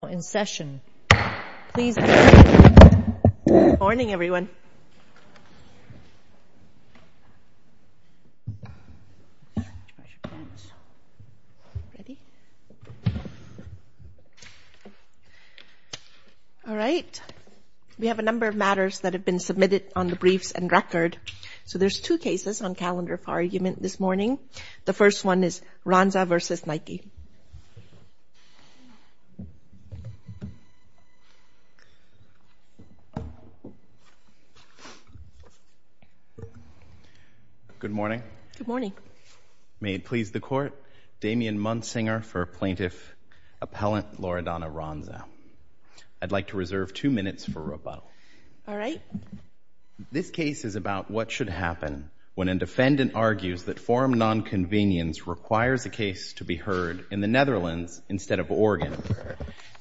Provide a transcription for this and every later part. Good morning, everyone. All right. We have a number of matters that have been submitted on the briefs and record. So there's two cases on calendar for argument this morning. The first one is Ranza v. Nike. Good morning. May it please the Court, Damian Munsinger for Plaintiff Appellant Loredana Ranza. I'd like to reserve two minutes for rebuttal. This case is about what should happen when a defendant argues that forum nonconvenience requires a case to be heard in the Netherlands instead of Oregon,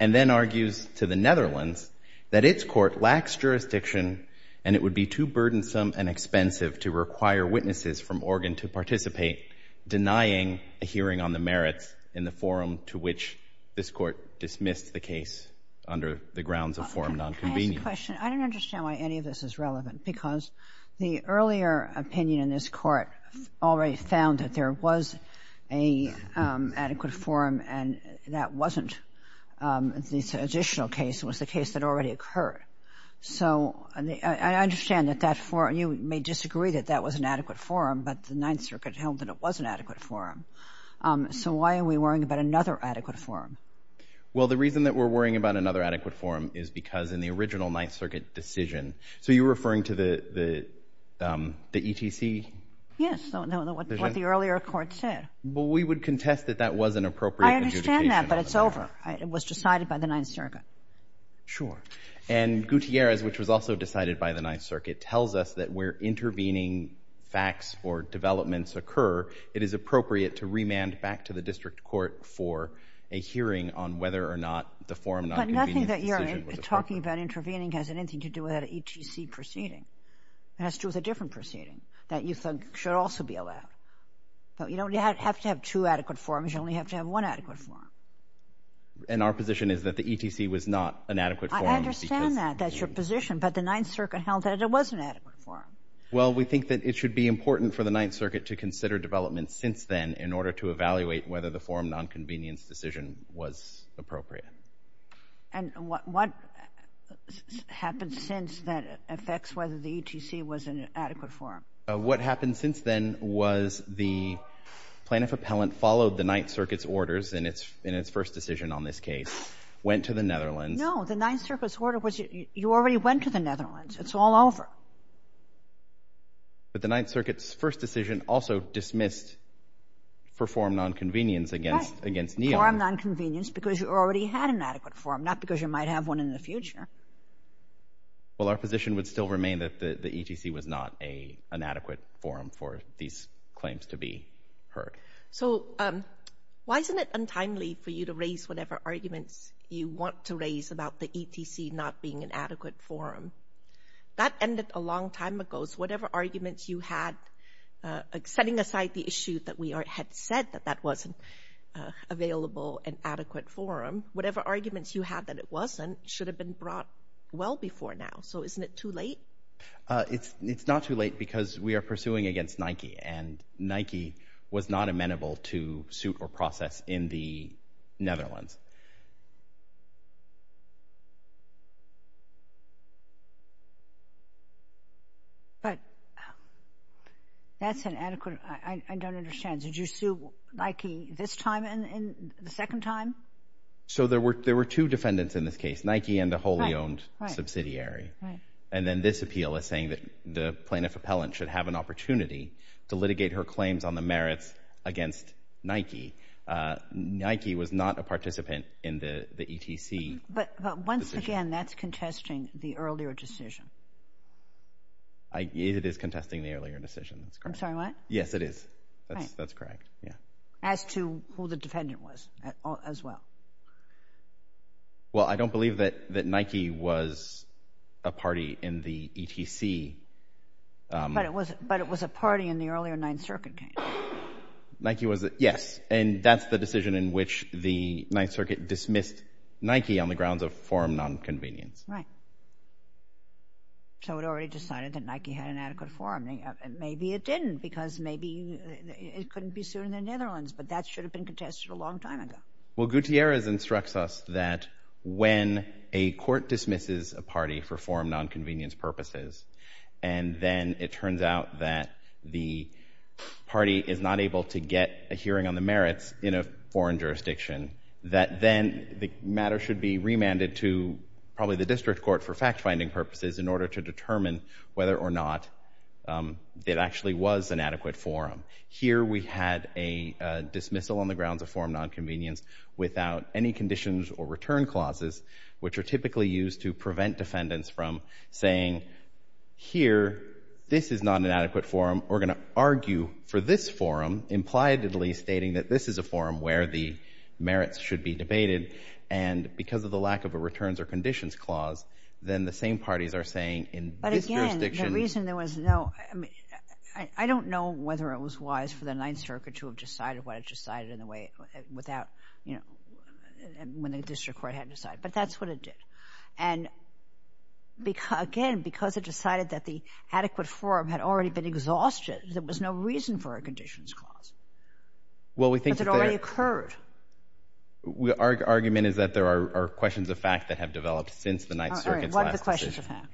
and then argues to the Netherlands that its court lacks jurisdiction and it would be too burdensome and expensive to require witnesses from Oregon to participate, denying a hearing on the merits in the forum to which this Court dismissed the case under the grounds of forum nonconvenience. Can I ask a question? I don't understand why any of this is relevant, because the earlier opinion in this Court already found that there was an adequate forum, and that wasn't the additional case. It was the case that already occurred. I understand that you may disagree that that was an adequate forum, but the Ninth Circuit held that it was an adequate forum. So why are we worrying about another adequate forum? Well, the reason that we're worrying about another adequate forum is because in the original Ninth Circuit decision—so you're referring to the ETC? Yes, what the earlier Court said. Well, we would contest that that was an appropriate adjudication. I understand that, but it's over. It was decided by the Ninth Circuit. Sure. And Gutierrez, which was also decided by the Ninth Circuit, tells us that where intervening facts or developments occur, it is appropriate to remand back to the District Court for a hearing on whether or not the forum nonconvenience decision was appropriate. I don't think that your talking about intervening has anything to do with that ETC proceeding. It has to do with a different proceeding that you think should also be allowed. You don't have to have two adequate forums. You only have to have one adequate forum. And our position is that the ETC was not an adequate forum because— I understand that. That's your position. But the Ninth Circuit held that it was an adequate forum. Well, we think that it should be important for the Ninth Circuit to consider developments since then in order to evaluate whether the forum nonconvenience decision was appropriate. And what happened since then affects whether the ETC was an adequate forum. What happened since then was the plaintiff appellant followed the Ninth Circuit's orders in its first decision on this case, went to the Netherlands— No. The Ninth Circuit's order was you already went to the Netherlands. It's all over. But the Ninth Circuit's first decision also dismissed forum nonconvenience against— Forum nonconvenience because you already had an adequate forum, not because you might have one in the future. Well, our position would still remain that the ETC was not an adequate forum for these claims to be heard. So why isn't it untimely for you to raise whatever arguments you want to raise about the ETC not being an adequate forum? That ended a long time ago. So whatever arguments you had, setting aside the issue that we had said that that wasn't available, an adequate forum, whatever arguments you had that it wasn't should have been brought well before now. So isn't it too late? It's not too late because we are pursuing against Nike, and Nike was not amenable to suit or process in the Netherlands. But that's an adequate—I don't understand. Did you sue Nike this time and the second time? So there were two defendants in this case, Nike and a wholly-owned subsidiary. And then this appeal is saying that the plaintiff appellant should have an opportunity to litigate her claims on the merits against Nike. Nike was not a participatory firm. But once again, that's contesting the earlier decision. It is contesting the earlier decision. I'm sorry, what? Yes, it is. That's correct. As to who the defendant was as well? Well, I don't believe that Nike was a party in the ETC. But it was a party in the earlier Ninth Circuit case. Nike was a—yes. And that's the decision in which the Ninth Circuit dismissed Nike on the grounds of forum nonconvenience. Right. So it already decided that Nike had an adequate forum. Maybe it didn't because maybe it couldn't be sued in the Netherlands, but that should have been contested a long time ago. Well, Gutierrez instructs us that when a court dismisses a party for forum nonconvenience purposes, and then it turns out that the party is not able to get a hearing on the merits in a foreign jurisdiction, that then the matter should be remanded to probably the district court for fact-finding purposes in order to determine whether or not it actually was an adequate forum. Here we had a dismissal on the grounds of forum nonconvenience without any conditions or return clauses, which are typically used to prevent defendants from saying here, this is not an adequate forum. We're going to argue for this forum, impliedly stating that this is a forum where the merits should be debated. And because of the lack of a returns or conditions clause, then the same parties are saying in this jurisdiction— But again, the reason there was no— I mean, I don't know whether it was wise for the Ninth Circuit to have decided what it decided in a way without, you know, when the district court had to decide. But that's what it did. And again, because it decided that the adequate forum had already been exhausted, there was no reason for a conditions clause. But it already occurred. Our argument is that there are questions of fact that have developed since the Ninth Circuit's last decision. All right. What are the questions of fact?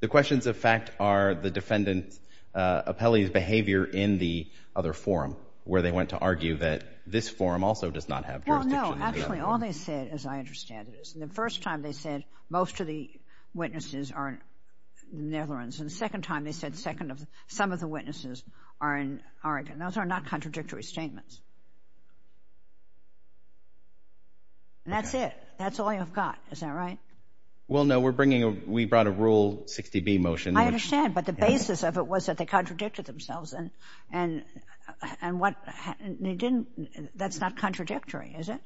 The questions of fact are the defendant's appellee's behavior in the other forum, where they went to argue that this forum also does not have jurisdiction. Well, no. Actually, all they said, as I understand it, most of the witnesses are in the Netherlands. And the second time, they said some of the witnesses are in Oregon. Those are not contradictory statements. And that's it. That's all you've got. Is that right? Well, no. We brought a Rule 60B motion. I understand. But the basis of it was that they contradicted themselves. And that's not contradictory, is it?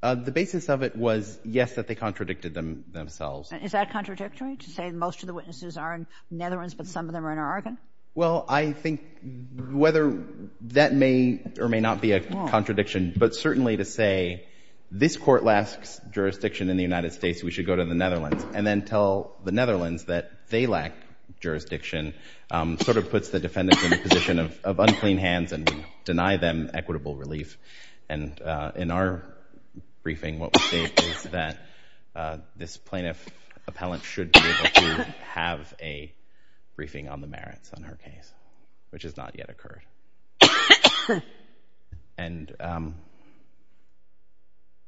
The basis of it was, yes, that they contradicted themselves. Is that contradictory, to say most of the witnesses are in the Netherlands, but some of them are in Oregon? Well, I think whether that may or may not be a contradiction, but certainly to say, this court lacks jurisdiction in the United States, we should go to the Netherlands, and then tell the Netherlands that they lack jurisdiction, sort of puts the defendants in a position of unclean hands and deny them equitable relief. And in our briefing, what we say is that this plaintiff appellant should be able to have a briefing on the merits on her case, which has not yet occurred. And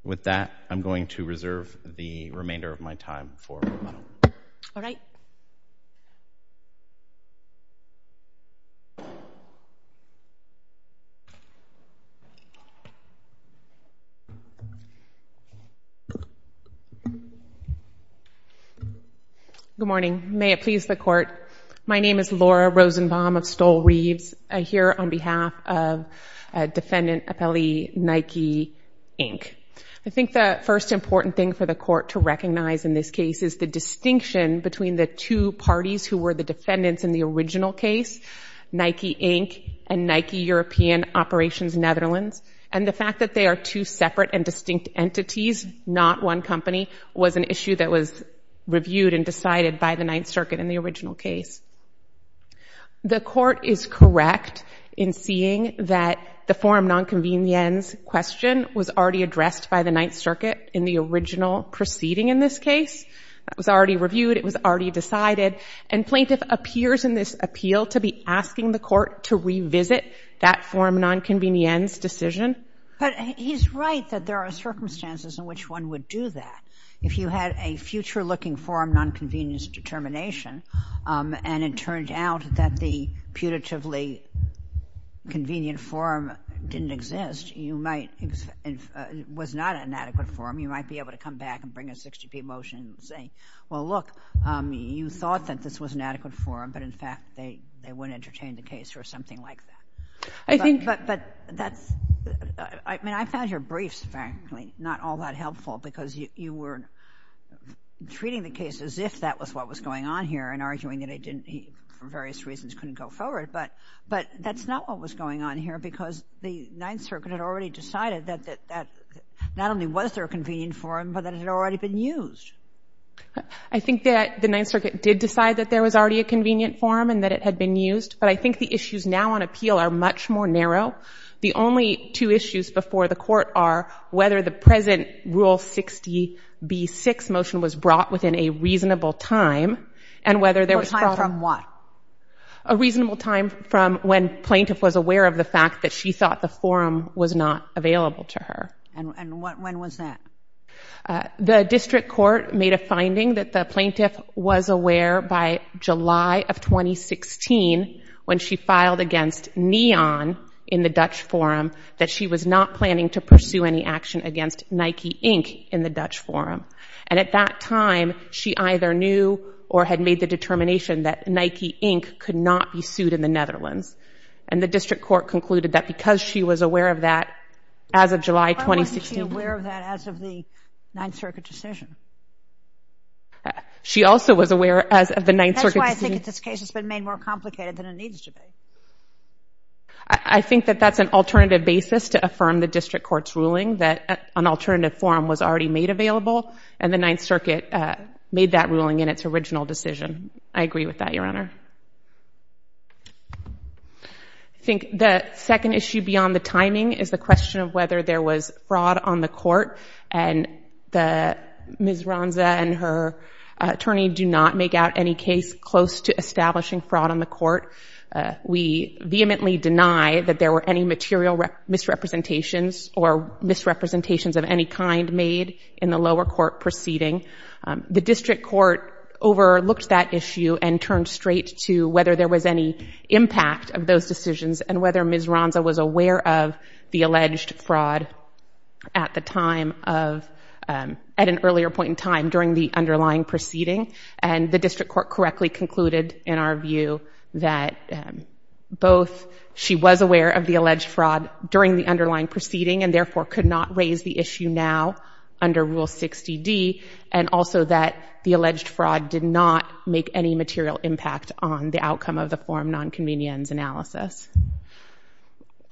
with that, I'm going to reserve the remainder of my time for rebuttal. All right. Thank you. Good morning. May it please the court, my name is Laura Rosenbaum of Stoll Reeves. I'm here on behalf of Defendant Appellee Nike, Inc. I think the first important thing for the court to recognize in this case is the distinction between the two parties who were the defendants in the original case, Nike, Inc., and Nike European Operations Netherlands. And the fact that they are two separate and distinct entities, not one company, was an issue that was reviewed and decided by the Ninth Circuit in the original case. The court is correct in seeing that the forum non-convenience question was already addressed by the Ninth Circuit in the original proceeding in this case. It was already reviewed, it was already decided, and plaintiff appears in this appeal to be asking the court to revisit that forum non-convenience decision. But he's right that there are circumstances in which one would do that. If you had a future-looking forum non-convenience determination and it turned out that the putatively convenient forum didn't exist, was not an adequate forum, you might be able to come back and bring a 60p motion saying, well, look, you thought that this was an adequate forum, but in fact they wouldn't entertain the case or something like that. But that's... I mean, I found your briefs, frankly, not all that helpful because you were treating the case as if that was what was going on here and arguing that he, for various reasons, couldn't go forward. But that's not what was going on here because the Ninth Circuit had already decided that not only was there a convenient forum, but that it had already been used. I think that the Ninth Circuit did decide that there was already a convenient forum and that it had been used, but I think the issues now on appeal are much more narrow. The only two issues before the court are whether the present Rule 60b-6 motion was brought within a reasonable time and whether there was... A time from what? A reasonable time from when Plaintiff was aware of the fact that she thought the forum was not available to her. And when was that? The district court made a finding that the plaintiff was aware by July of 2016 when she filed against Neon in the Dutch forum that she was not planning to pursue any action against Nike, Inc. in the Dutch forum. And at that time, she either knew or had made the determination that Nike, Inc. could not be sued in the Netherlands. And the district court concluded that because she was aware of that as of July 2016... of the Ninth Circuit decision. She also was aware as of the Ninth Circuit decision. That's why I think in this case it's been made more complicated than it needs to be. I think that that's an alternative basis to affirm the district court's ruling that an alternative forum was already made available and the Ninth Circuit made that ruling in its original decision. I agree with that, Your Honor. I think the second issue beyond the timing is the question of whether there was fraud on the court and Ms. Ronza and her attorney do not make out any case close to establishing fraud on the court. We vehemently deny that there were any material misrepresentations or misrepresentations of any kind made in the lower court proceeding. The district court overlooked that issue and turned straight to whether there was any impact of those decisions and whether Ms. Ronza was aware of the alleged fraud at the time of... at an earlier point in time during the underlying proceeding. And the district court correctly concluded in our view that both she was aware of the alleged fraud during the underlying proceeding and therefore could not raise the issue now under Rule 60D and also that the alleged fraud did not make any material impact on the outcome of the forum nonconvenience analysis.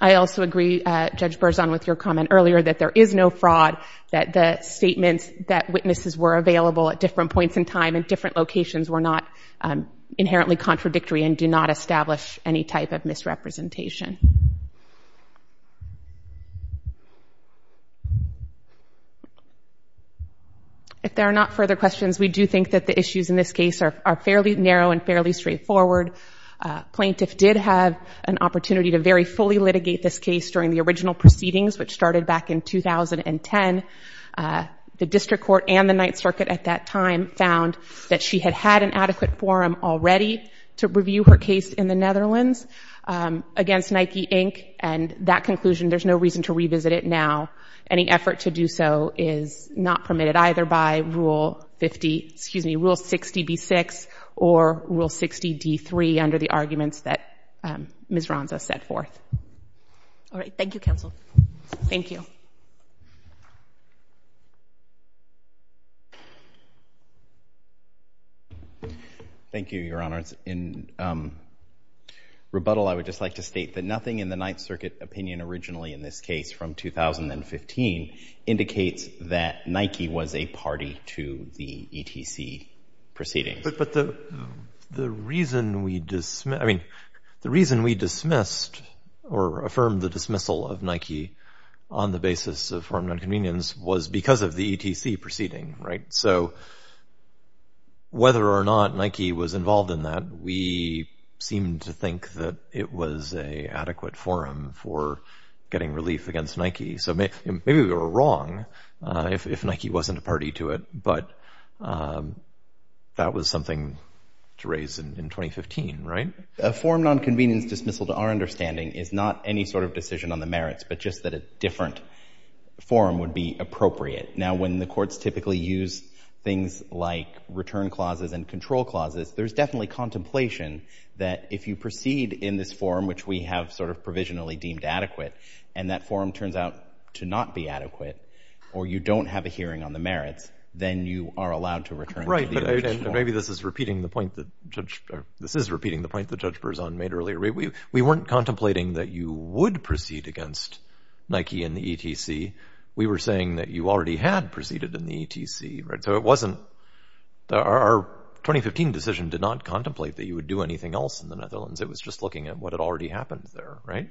I also agree, Judge Berzon, with your comment earlier that there is no fraud, that the statements that witnesses were available at different points in time in different locations were not inherently contradictory and do not establish any type of misrepresentation. If there are not further questions, we do think that the issues in this case are fairly narrow and fairly straightforward. Plaintiff did have an opportunity to very fully litigate this case during the original proceedings, which started back in 2010. The district court and the Ninth Circuit at that time found that she had had an adequate forum already to review her case in the Netherlands against Nike, Inc., and that conclusion, there's no reason to revisit it now. Any effort to do so is not permitted either by Rule 50... excuse me, Rule 60B6 or Rule 60D3 under the arguments that Ms. Ronza set forth. All right, thank you, counsel. Thank you. Thank you, Your Honor. In rebuttal, I would just like to state that nothing in the Ninth Circuit opinion originally in this case from 2015 indicates that Nike was a party to the ETC proceedings. But the reason we dismissed... I mean, the reason we dismissed or affirmed the dismissal of Nike on the basis of forum nonconvenience was because of the ETC proceeding, right? So whether or not Nike was involved in that, we seem to think that it was an adequate forum for getting relief against Nike. So maybe we were wrong if Nike wasn't a party to it, but that was something to raise in 2015, right? A forum nonconvenience dismissal, to our understanding, is not any sort of decision on the merits, but just that a different forum would be appropriate. Now, when the courts typically use things like return clauses and control clauses, there's definitely contemplation that if you proceed in this forum, which we have sort of provisionally deemed adequate, or you don't have a hearing on the merits, then you are allowed to return to the original forum. Right, but maybe this is repeating the point that Judge... This is repeating the point that Judge Berzon made earlier. We weren't contemplating that you would proceed against Nike and the ETC. We were saying that you already had proceeded in the ETC, right? So it wasn't... Our 2015 decision did not contemplate that you would do anything else in the Netherlands. It was just looking at what had already happened there, right?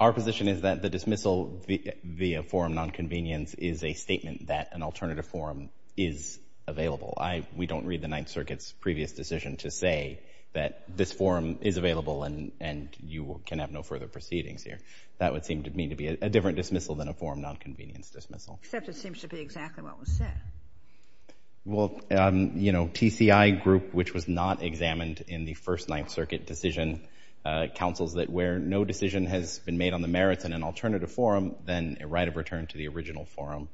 Our position is that the dismissal via forum nonconvenience is a statement that an alternative forum is available. We don't read the Ninth Circuit's previous decision to say that this forum is available and you can have no further proceedings here. That would seem to me to be a different dismissal than a forum nonconvenience dismissal. Except it seems to be exactly what was said. Well, you know, TCI Group, which was not examined in the first Ninth Circuit decision, counsels that where no decision has been made on the merits in an alternative forum, then a right of return to the original forum,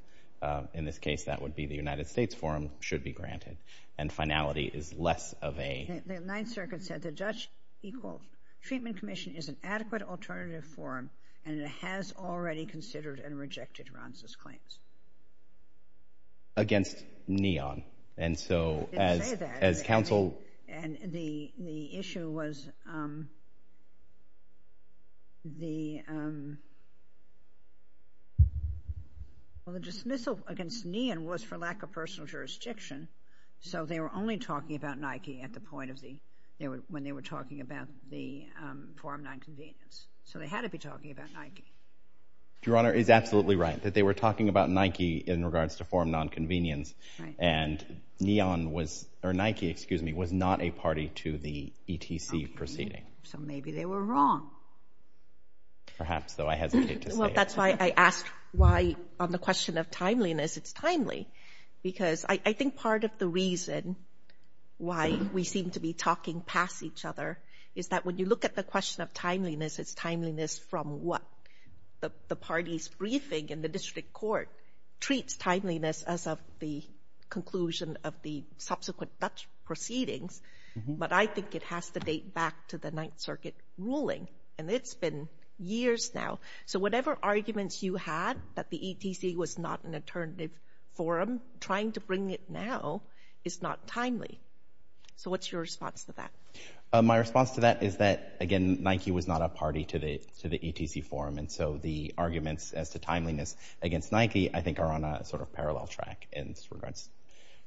in this case that would be the United States forum, should be granted. And finality is less of a... The Ninth Circuit said the Dutch Equal Treatment Commission is an adequate alternative forum and it has already considered and rejected Ranz's claims. Against NEON. I didn't say that. And so as counsel... And the issue was... The... Well, the dismissal against NEON was for lack of personal jurisdiction, so they were only talking about Nike at the point of the... when they were talking about the forum nonconvenience. So they had to be talking about Nike. Your Honour is absolutely right, that they were talking about Nike in regards to forum nonconvenience and NEON was... or Nike, excuse me, was not a party to the ETC proceeding. So maybe they were wrong. Perhaps, though I hesitate to say it. Well, that's why I asked why, on the question of timeliness, it's timely. Because I think part of the reason why we seem to be talking past each other is that when you look at the question of timeliness, it's timeliness from what? The party's briefing in the district court treats timeliness as of the conclusion of the subsequent Dutch proceedings, but I think it has to date back to the Ninth Circuit ruling, and it's been years now. So whatever arguments you had that the ETC was not an alternative forum, trying to bring it now is not timely. So what's your response to that? My response to that is that, again, Nike was not a party to the ETC forum, and so the arguments as to timeliness against Nike I think are on a sort of parallel track in regards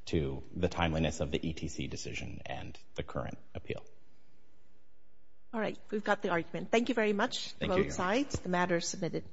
to the timeliness of the ETC decision and the current appeal. All right, we've got the argument. Thank you very much, both sides. The matter is submitted.